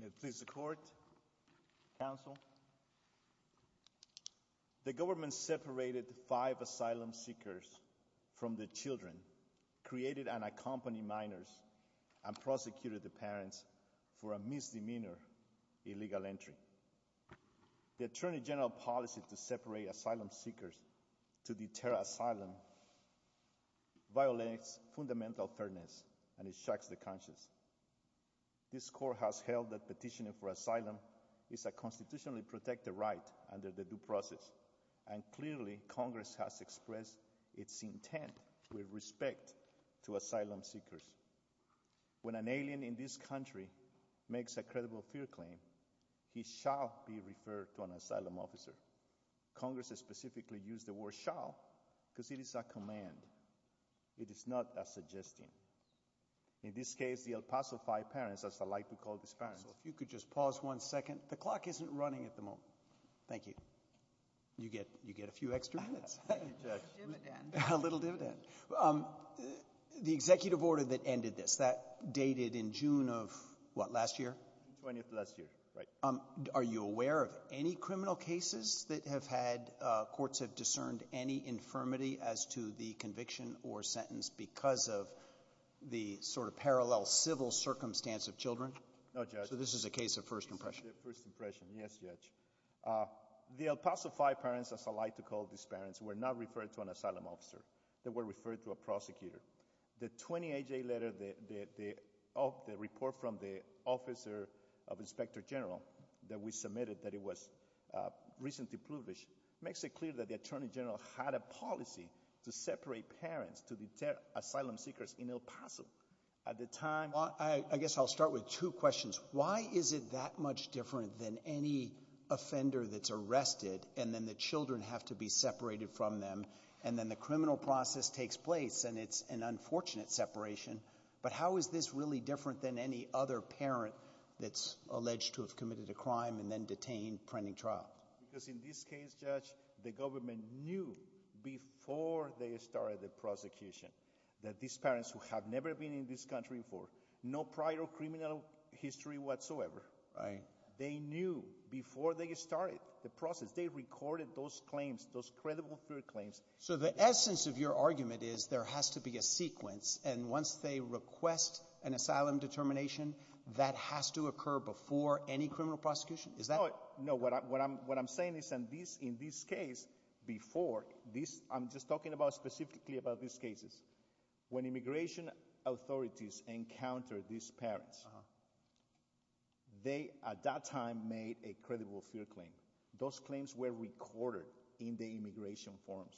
May it please the Court, Counsel. The government separated five asylum seekers from their children, created and accompanied minors and prosecuted the parents for a misdemeanor illegal entry. The Attorney General's policy to separate asylum seekers to deter asylum violates fundamental fairness and shocks the conscience. This Court has held that petitioning for asylum is a constitutionally protected right under the due process, and clearly Congress has expressed its intent with respect to asylum seekers. When an alien in this country makes a credible fear claim, he shall be referred to an asylum officer. Congress has specifically used the word shall because it is a command, it is not a suggestion. In this case, the El Paso Five Parents, as I like to call these parents. So if you could just pause one second. The clock isn't running at the moment. Thank you. You get a few extra minutes. A little dividend. The executive order that ended this, that dated in June of what, last year? June 20th of last year, right. Are you aware of any criminal cases that have had, courts have discerned any infirmity as to the conviction or sentence because of the sort of parallel civil circumstance of children? No, Judge. So this is a case of first impression? First impression, yes, Judge. The El Paso Five Parents, as I like to call these parents, were not referred to an asylum officer. They were referred to a prosecutor. The 28 day letter, the report from the officer of inspector general that we submitted that it was recently published, makes it clear that the attorney general had a policy to separate parents to deter asylum seekers in El Paso at the time. I guess I'll start with two questions. Why is it that much different than any offender that's arrested and then the children have to be separated from them and then the criminal process takes place and it's an unfortunate separation. But how is this really different than any other parent that's alleged to have committed a crime and then detained, pending trial? Because in this case, Judge, the government knew before they started the prosecution that these parents who have never been in this country before, no prior criminal history whatsoever. Right. They knew before they started the process. They recorded those claims, those credible fear claims. So the essence of your argument is there has to be a sequence and once they request an asylum determination, that has to occur before any criminal prosecution? Is that? No. What I'm saying is in this case, before, I'm just talking specifically about these cases. When immigration authorities encountered these parents, they at that time made a credible fear claim. Those claims were recorded in the immigration forms.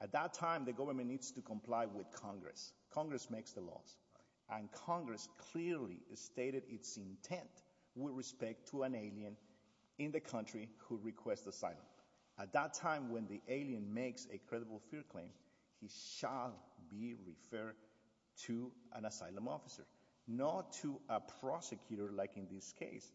At that time, the government needs to comply with Congress. Congress makes the laws. And Congress clearly stated its intent with respect to an alien in the country who requests asylum. At that time, when the alien makes a credible fear claim, he shall be referred to an asylum officer, not to a prosecutor like in this case.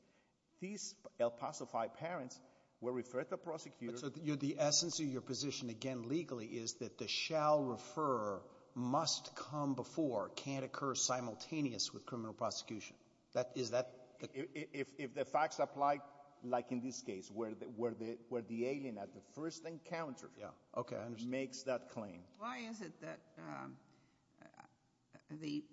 These El Paso-fied parents were referred to a prosecutor. The essence of your position, again, legally, is that the shall refer must come before, can't occur simultaneous with criminal prosecution. Is that? If the facts apply, like in this case, where the alien at the first encounter makes that claim. Why is it that the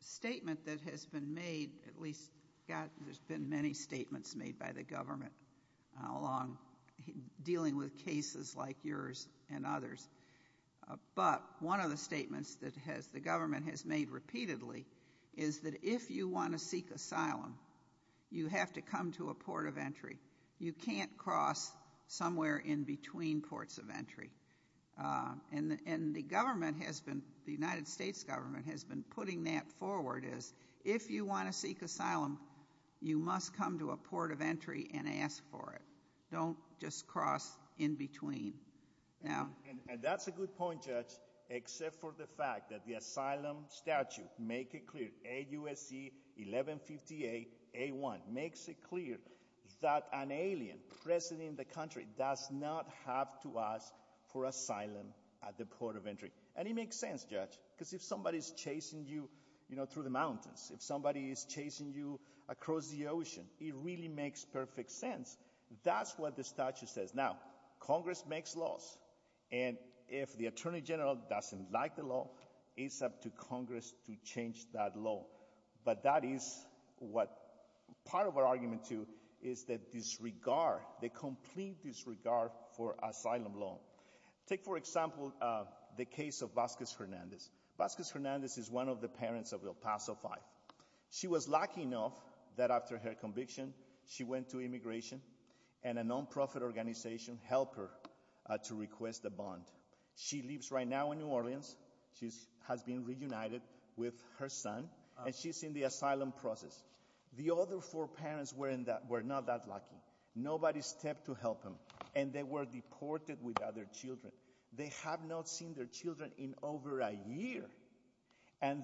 statement that has been made, at least there's been many statements made by the government along dealing with cases like yours and others, but one of the statements that the government has made repeatedly is that if you want to seek asylum, you have to come to a port of entry. You can't cross somewhere in between ports of entry. And the government has been, the United States government has been putting that forward as if you want to seek asylum, you must come to a port of entry and ask for it. Don't just cross in between. And that's a good point, Judge, except for the fact that the asylum statute, make it clear, AUSC 1158A1, makes it clear that an alien present in the country does not have to ask for asylum at the port of entry. And it makes sense, Judge, because if somebody's chasing you through the mountains, if somebody is chasing you across the ocean, it really makes perfect sense. That's what the statute says. Now, Congress makes laws, and if the Attorney General doesn't like the law, it's up to Congress to change that law. But that is what part of our argument, too, is the disregard, the complete disregard for asylum law. Take for example the case of Vasquez Hernandez. Vasquez Hernandez is one of the parents of El Paso Five. She was lucky enough that after her conviction, she went to immigration, and a non-profit organization helped her to request a bond. She lives right now in New Orleans. She has been reunited with her son, and she's in the asylum process. The other four parents were not that lucky. Nobody stepped to help them, and they were deported with other children. They have not seen their children in over a year. And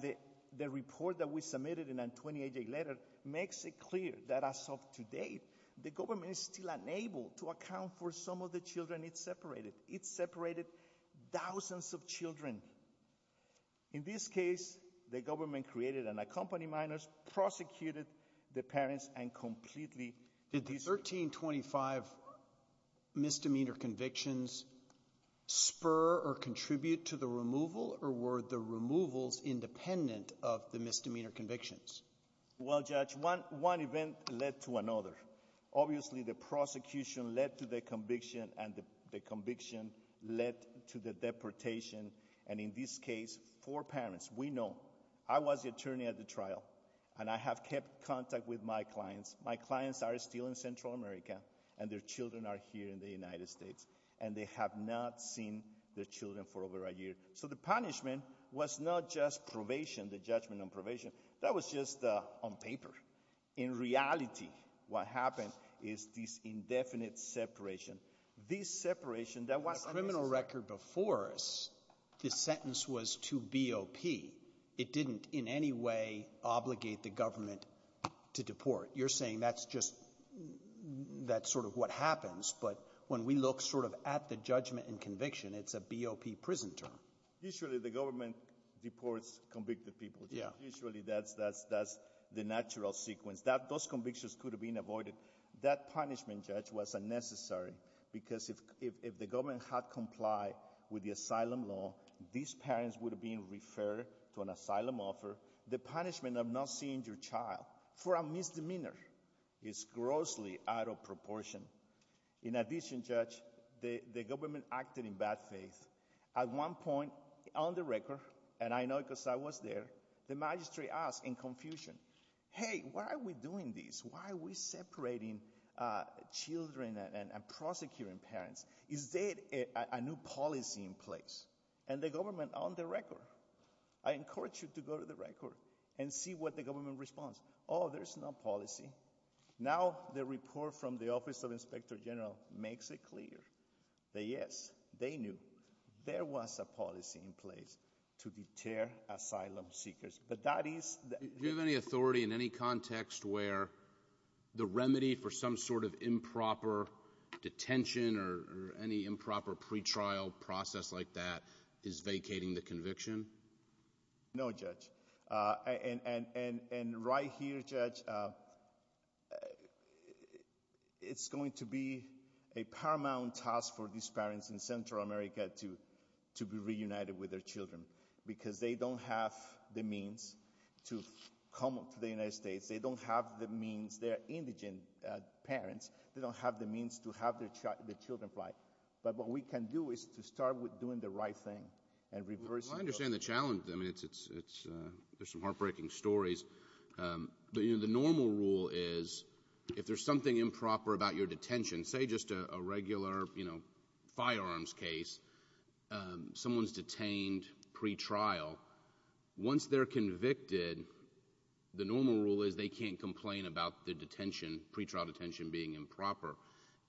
the report that we submitted in a 28-day letter makes it clear that as of today, the government is still unable to account for some of the children it separated. It separated thousands of children. In this case, the government created and accompanied minors, prosecuted the parents, and completely — Did the 1325 misdemeanor convictions spur or contribute to the removal? Or were the removals independent of the misdemeanor convictions? Well, Judge, one event led to another. Obviously, the prosecution led to the conviction, and the conviction led to the deportation. And in this case, four parents — we know. I was the attorney at the trial, and I have kept contact with my clients. My clients are still in Central America, and their children are here in the United States. And they have not seen their children for over a year. So the punishment was not just probation, the judgment on probation. That was just on paper. In reality, what happened is this indefinite separation. This separation — The criminal record before us, the sentence was to BOP. It didn't in any way obligate the government to deport. You're saying that's just — that's sort of what happens. But when we look sort of at the judgment and conviction, it's a BOP prison term. Usually, the government deports convicted people, Judge. Usually, that's the natural sequence. Those convictions could have been avoided. That punishment, Judge, was unnecessary, because if the government had complied with the asylum law, these parents would have been referred to an asylum offer. The punishment of not seeing your child for a misdemeanor is grossly out of proportion. In addition, Judge, the government acted in bad faith. At one point, on the record, and I know because I was there, the magistrate asked in confusion, hey, why are we doing this? Why are we separating children and prosecuting parents? Is there a new policy in place? And the government, on the record — I encourage you to go to the record and see what the government responds. Oh, there's no policy. Now the report from the Office of Inspector General makes it clear that, yes, they knew there was a policy in place to deter asylum seekers. But that is — Do you have any authority in any context where the remedy for some sort of improper detention or any improper pretrial process like that is vacating the conviction? No, Judge. And right here, Judge, it's going to be a paramount task for these parents in Central America to be reunited with their children, because they don't have the means to come to the United States. They don't have the means — they're indigent parents. They don't have the means to have their children fly. But what we can do is to start with doing the right thing and reversing those — Well, I understand the challenge. I mean, it's — there's some heartbreaking stories. The normal rule is, if there's something improper about your detention — say, just a regular, you know, firearms case — someone's detained pretrial. Once they're convicted, the normal rule is they can't complain about the detention, pretrial detention, being improper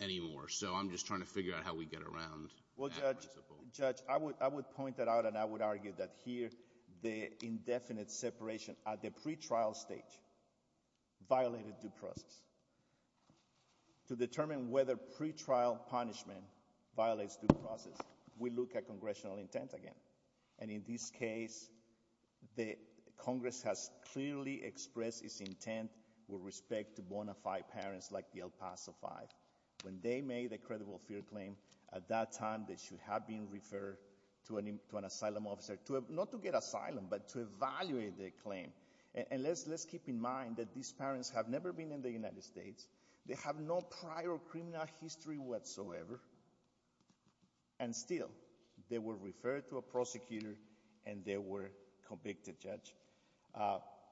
anymore. So I'm just trying to figure out how we get around that principle. Well, Judge, I would point that out, and I would argue that here the indefinite separation at the pretrial stage violated due process. To determine whether pretrial punishment violates due process, we look at congressional intent again. And in this case, Congress has clearly expressed its intent with respect to bona fide parents like the El Paso Five. When they made a credible fear claim, at that time they should have been referred to an asylum officer to — not to get asylum, but to evaluate the claim. And let's keep in mind that these parents have never been in the United States. They have no prior criminal history whatsoever. And still, they were referred to a prosecutor, and they were convicted, Judge.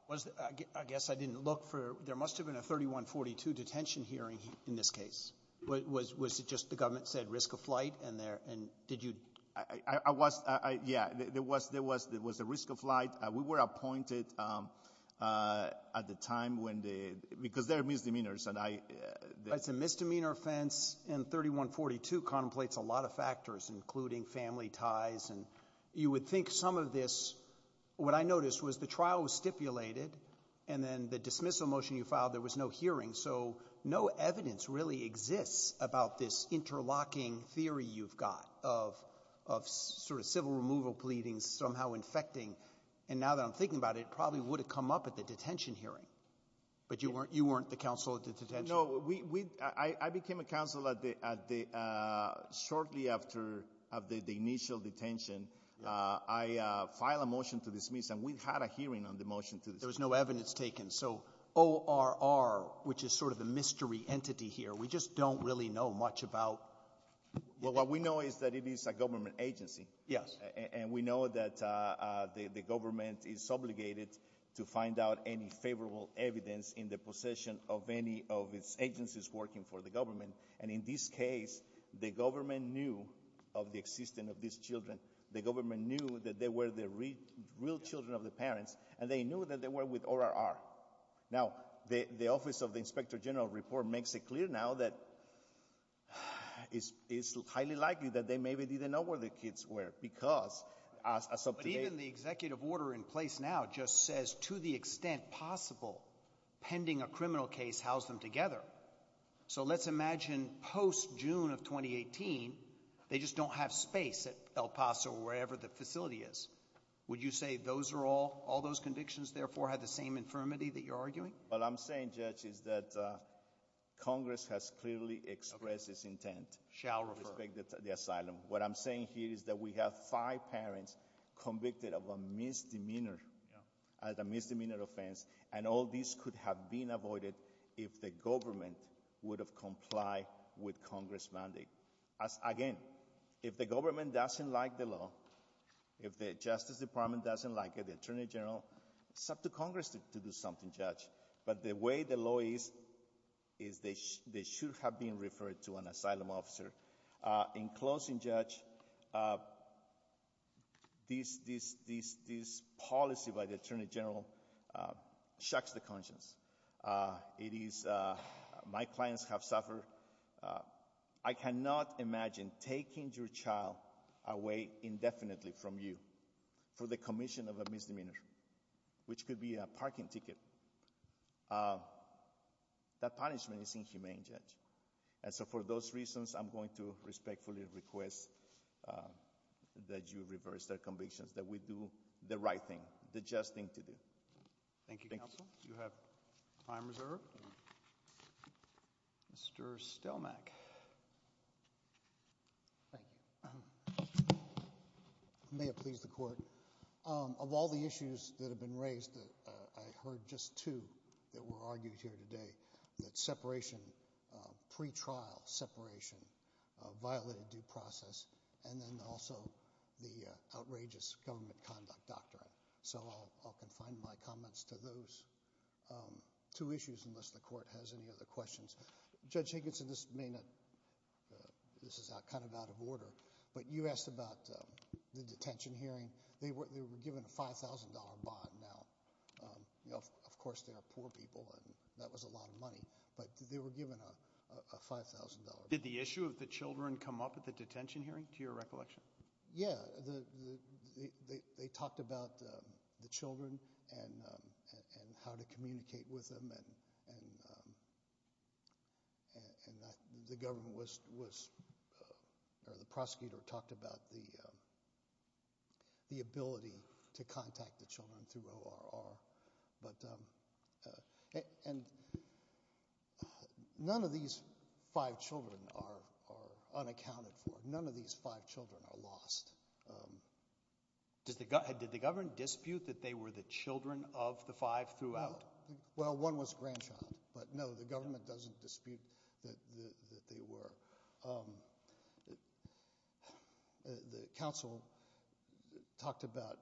Was — I guess I didn't look for — there must have been a 3142 detention hearing in this case. Was it just the government said risk of flight, and there — and did you — I was — yeah, there was — there was a risk of flight. We were appointed at the time when the — because there are misdemeanors, and I — It's a misdemeanor offense, and 3142 contemplates a lot of factors, including family ties. And you would think some of this — what I noticed was the trial was stipulated, and then the dismissal motion you filed, there was no hearing. So no evidence really exists about this interlocking theory you've got of — of sort of civil removal pleadings somehow infecting. And now that I'm thinking about it, it probably would have come up at the detention hearing. No, we — I became a counsel at the — shortly after the initial detention, I filed a motion to dismiss, and we had a hearing on the motion to dismiss. There was no evidence taken. So ORR, which is sort of the mystery entity here, we just don't really know much about — Well, what we know is that it is a government agency. Yes. And we know that the government is obligated to find out any favorable evidence in the agencies working for the government. And in this case, the government knew of the existence of these children. The government knew that they were the real children of the parents, and they knew that they were with ORR. Now, the Office of the Inspector General report makes it clear now that it's highly likely that they maybe didn't know where the kids were because — But even the executive order in place now just says, to the extent possible, pending a criminal case, house them together. So let's imagine post-June of 2018, they just don't have space at El Paso or wherever the facility is. Would you say those are all — all those convictions, therefore, had the same infirmity that you're arguing? What I'm saying, Judge, is that Congress has clearly expressed its intent — Shall refer. — to respect the asylum. What I'm saying here is that we have five parents convicted of a misdemeanor — Yeah. — as a misdemeanor offense, and all these could have been avoided if the government would have complied with Congress' mandate. Again, if the government doesn't like the law, if the Justice Department doesn't like it, the Attorney General, it's up to Congress to do something, Judge. But the way the law is, is they should have been referred to an asylum officer. In closing, Judge, this policy by the Attorney General shucks the conscience. It is — my clients have suffered. I cannot imagine taking your child away indefinitely from you for the commission of a misdemeanor, which could be a parking ticket. That punishment is inhumane, Judge. And so, for those reasons, I'm going to respectfully request that you reverse their convictions, that we do the right thing, the just thing to do. Thank you. Thank you, Counsel. You have time reserved. Mr. Stelmach. Thank you. May it please the Court. Of all the issues that have been raised, I heard just two that were argued here today, that separation, pretrial separation, violated due process, and then also the outrageous government conduct doctrine. So I'll confine my comments to those two issues, unless the Court has any other questions. Judge Hankinson, this may not — this is kind of out of order, but you asked about the detention hearing. They were given a $5,000 bond. Now, you know, of course, they are poor people, and that was a lot of money, but they were given a $5,000 bond. Did the issue of the children come up at the detention hearing, to your recollection? Yeah. They talked about the children and how to communicate with them, and the government was — or the prosecutor talked about the ability to contact the children through ORR. And none of these five children are unaccounted for. None of these five children are lost. Did the government dispute that they were the children of the five throughout? Well, one was a grandchild, but no, the government doesn't dispute that they were. The counsel talked about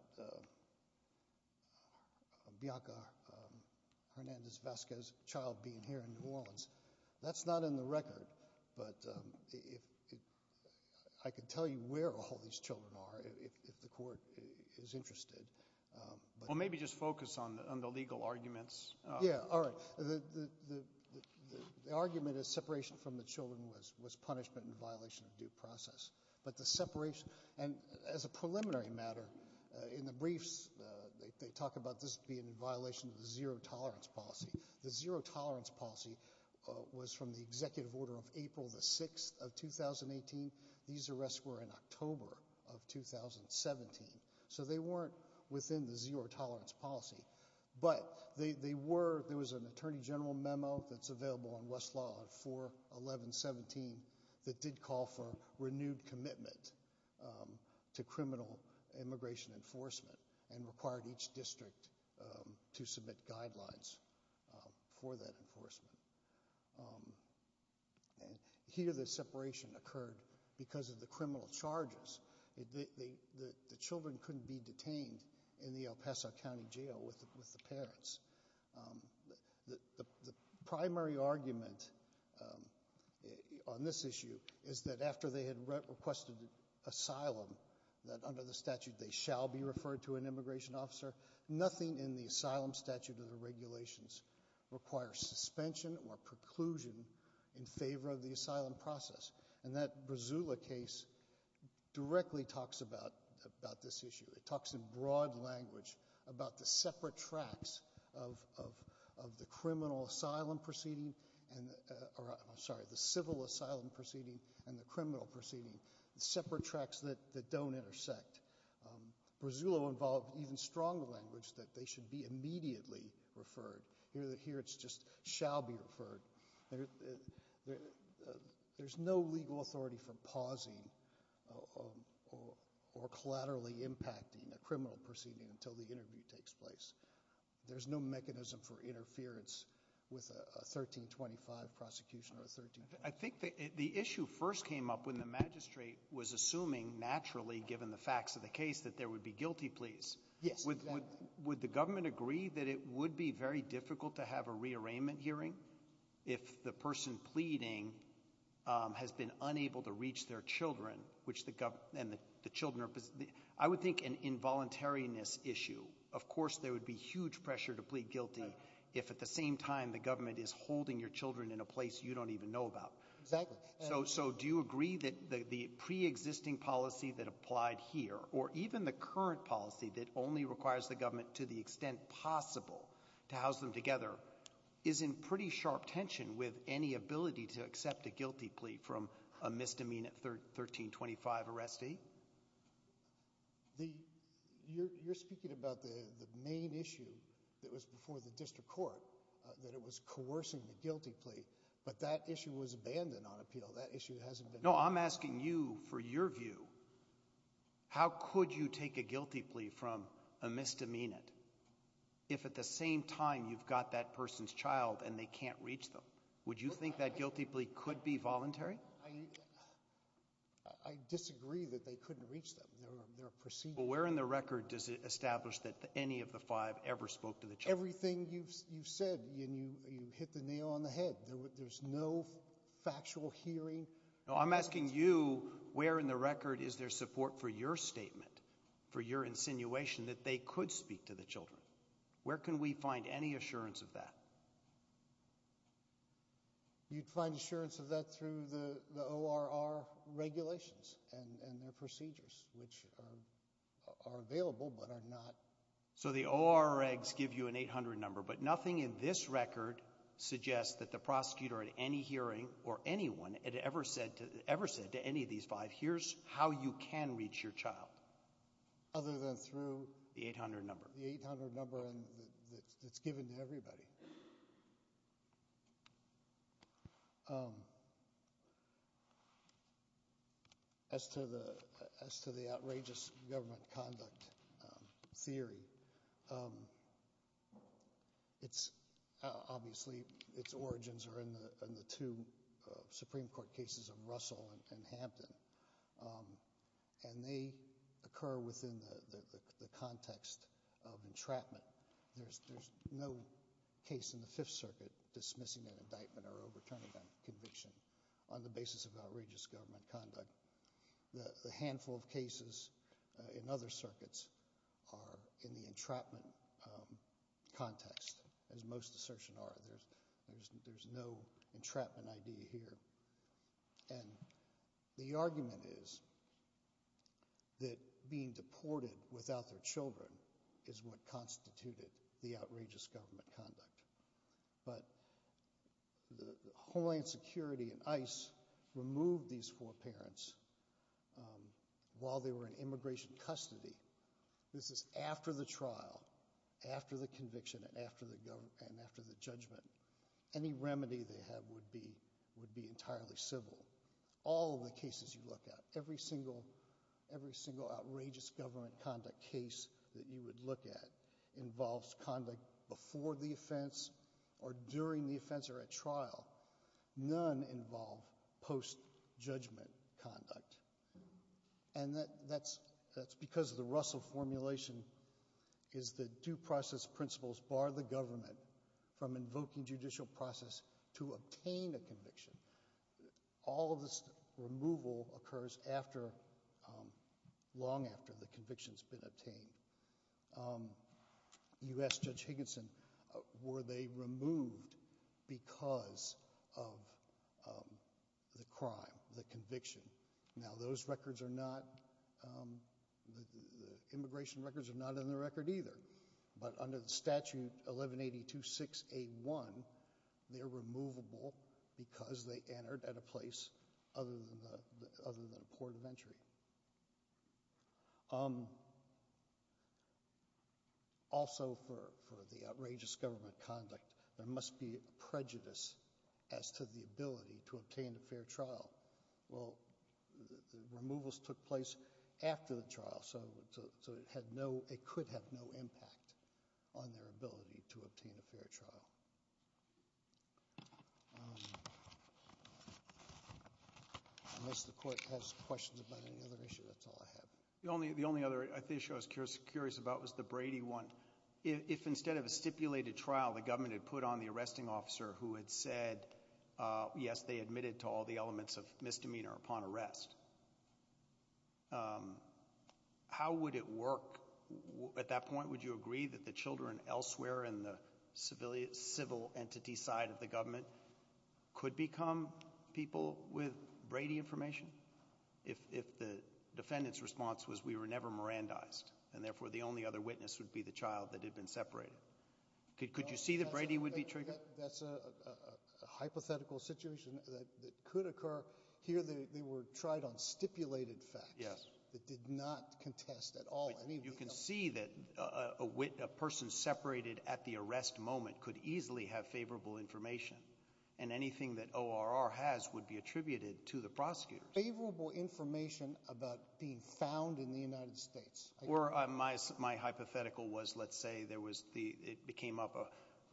Bianca Hernandez-Vasquez's child being here in New Orleans. That's not in the record, but if — I could tell you where all these children are, if the Court is interested. Well, maybe just focus on the legal arguments. Yeah, all right. The argument is separation from the children was punishment in violation of due process. But the separation — and as a preliminary matter, in the briefs, they talk about this being in violation of the zero tolerance policy. The zero tolerance policy was from the executive order of April the 6th of 2018. These arrests were in October of 2017. So they weren't within the zero tolerance policy. But they were — there was an attorney general memo that's available on Westlaw on 4-11-17 that did call for renewed commitment to criminal immigration enforcement and required each district to submit guidelines for that enforcement. Here the separation occurred because of the criminal charges. The children couldn't be detained in the El Paso County Jail with the parents. The primary argument on this issue is that after they had requested asylum, that under the statute they shall be referred to an immigration officer, nothing in the asylum statute or the regulations requires suspension or preclusion in favor of the asylum process. And that Brazula case directly talks about this issue. It talks in broad language about the separate tracks of the criminal asylum proceeding — or, I'm sorry, the civil asylum proceeding and the criminal proceeding, the separate tracks that don't intersect. Brazula involved even stronger language that they should be immediately referred. Here it's just shall be referred. There's no legal authority for pausing or collaterally impacting a criminal proceeding until the interview takes place. There's no mechanism for interference with a 1325 prosecution or a 1325 — I think the issue first came up when the magistrate was assuming, naturally, given the facts of the case, that there would be guilty pleas. Yes, exactly. Would the government agree that it would be very difficult to have a re-arraignment hearing if the person pleading has been unable to reach their children, which the government and the children — I would think an involuntariness issue. Of course there would be huge pressure to plead guilty if at the same time the government is holding your children in a place you don't even know about. Exactly. So do you agree that the pre-existing policy that applied here, or even the current policy that only requires the government to the extent possible to house them together, is in pretty sharp tension with any ability to accept a guilty plea from a misdemeanor 1325 arrestee? You're speaking about the main issue that was before the district court, that it was coercing the guilty plea, but that issue was abandoned on appeal. That issue hasn't been — No, I'm asking you for your view. How could you take a guilty plea from a misdemeanor if at the same time you've got that person's child and they can't reach them? Would you think that guilty plea could be voluntary? I disagree that they couldn't reach them. They're a procedural — But where in the record does it establish that any of the five ever spoke to the children? Everything you've said, you hit the nail on the head. There's no factual hearing. No, I'm asking you, where in the record is there support for your statement, for your insinuation that they could speak to the children? Where can we find any assurance of that? You'd find assurance of that through the ORR regulations and their procedures, which are available but are not — So the ORR regs give you an 800 number, but nothing in this record suggests that the prosecutor at any hearing or anyone had ever said to any of these five, here's how you can reach your child. Other than through — The 800 number. The 800 number that's given to everybody. As to the outrageous government conduct theory, obviously its origins are in the two Supreme Court cases of Russell and Hampton, and they occur within the context of entrapment. There's no case in the Fifth Circuit dismissing an indictment or overturning that conviction on the basis of outrageous government conduct. The handful of cases in other circuits are in the entrapment context, as most assertion are. There's no entrapment idea here. And the argument is that being deported without their children is what constituted the outrageous government conduct. But Homeland Security and ICE removed these four parents while they were in immigration custody. This is after the trial, after the conviction, and after the judgment. Any remedy they have would be entirely civil. All of the cases you look at, every single outrageous government conduct case that you would look at involves conduct before the offense or during the offense or at trial. None involve post-judgment conduct. And that's because the Russell formulation is that due process principles bar the government from invoking judicial process to obtain a conviction. All of this removal occurs after, long after the conviction's been obtained. You ask Judge Higginson, were they removed because of the crime, the conviction? Now those records are not, the immigration records are not in the record either. But under the statute 1182.6.A.1, they're removable because they entered at a place other than a port of entry. Also for the outrageous government conduct, there must be prejudice as to the ability to obtain a fair trial. Well, the removals took place after the trial, so it had no, it could have no impact on their ability to obtain a fair trial. Unless the court has questions about any other issue, that's all I have. The only, the only other issue I was curious about was the Brady one. If instead of a stipulated trial, the government had put on the arresting officer who had said, yes, they admitted to all the elements of misdemeanor upon arrest, how would it work? At that point, would you agree that the children elsewhere in the civilian, civil entity side of the government could become people with Brady information? If the defendant's response was, we were never Mirandized, and therefore the only other witness would be the child that had been separated. Could you see that Brady would be triggered? That's a hypothetical situation that could occur. Here, they were tried on stipulated facts that did not contest at all. You can see that a person separated at the arrest moment could easily have favorable information, and anything that ORR has would be attributed to the prosecutors. Favorable information about being found in the United States. Or my hypothetical was, let's say, there was the, it became up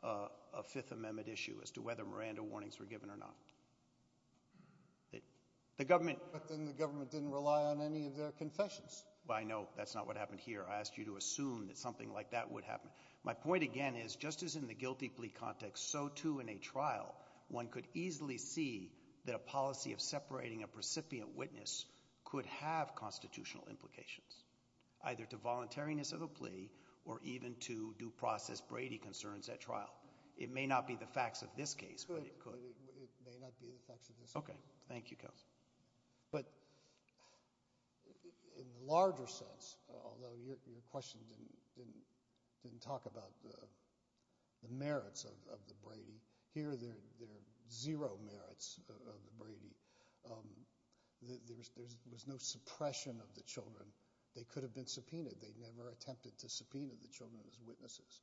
a Fifth Amendment issue as to whether Miranda warnings were given or not. The government. But then the government didn't rely on any of their confessions. I know. That's not what happened here. I asked you to assume that something like that would happen. My point again is, just as in the guilty plea context, so too in a trial, one could easily see that a policy of separating a precipient witness could have constitutional implications. Either to voluntariness of the plea, or even to due process Brady concerns at trial. It may not be the facts of this case, but it could. It may not be the facts of this case. Okay. Thank you, Counsel. But in the larger sense, although your question didn't talk about the merits of the Brady, here there are zero merits of the Brady. There was no suppression of the children. They could have been subpoenaed. They never attempted to subpoena the children as witnesses.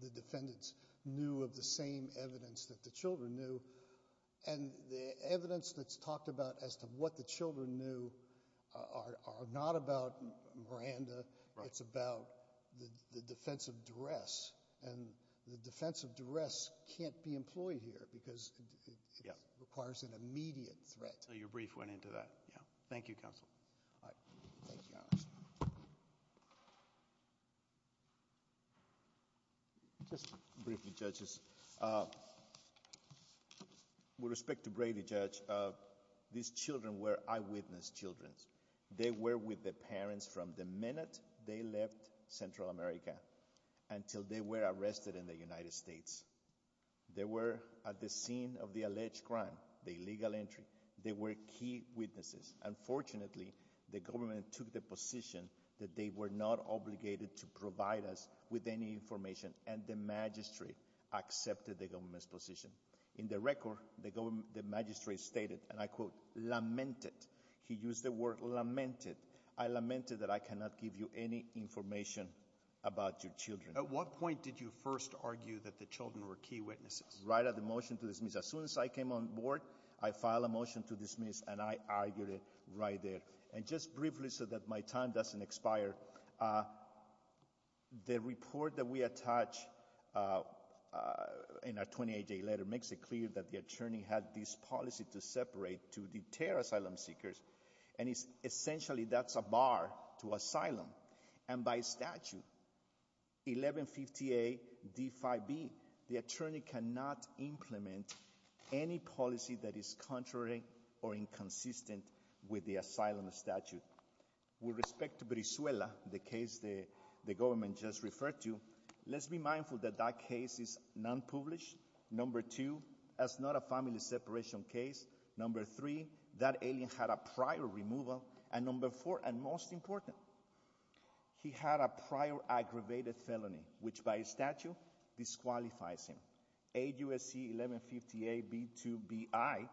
The defendants knew of the same evidence that the children knew. And the evidence that's talked about as to what the children knew are not about Miranda. It's about the defense of duress. And the defense of duress can't be employed here, because it requires an immediate threat. So your brief went into that. Yeah. Thank you, Counsel. All right. Thank you, Your Honor. Just briefly, Judges, with respect to Brady, Judge, these children were eyewitness children. They were with the parents from the minute they left Central America until they were arrested in the United States. They were at the scene of the alleged crime, the illegal entry. They were key witnesses. Unfortunately, the government took the position that they were not obligated to provide us with any information. And the magistrate accepted the government's position. In the record, the magistrate stated, and I quote, lamented. He used the word lamented. I lamented that I cannot give you any information about your children. At what point did you first argue that the children were key witnesses? Right at the motion to dismiss. As soon as I came on board, I filed a motion to dismiss, and I argued it right there. And just briefly, so that my time doesn't expire, the report that we attach in our 28-day letter makes it clear that the attorney had this policy to separate, to deter asylum seekers. And essentially, that's a bar to asylum. And by statute, 1150A D5B, the attorney cannot implement any policy that is contrary or inconsistent with the asylum statute. With respect to Brizuela, the case the government just referred to, let's be mindful that that case is non-published. Number two, that's not a family separation case. Number three, that alien had a prior removal. And number four, and most important, he had a prior aggravated felony, which by statute disqualifies him. AUSC 1150A B2BI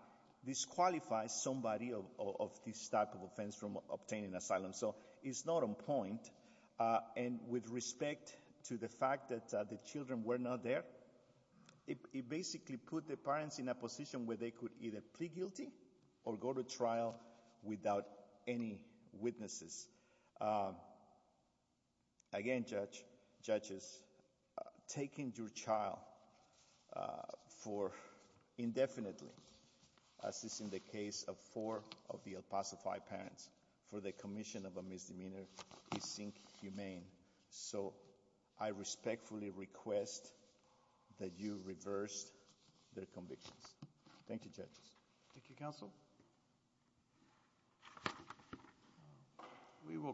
disqualifies somebody of this type of offense from obtaining asylum. So it's not on point, and with respect to the fact that the children were not there, it basically put the parents in a position where they could either plead guilty or go to trial without any witnesses. Again, judges, taking your child for a person of a misdemeanor is inhumane, so I respectfully request that you reverse their convictions. Thank you, judges. Thank you, counsel. We will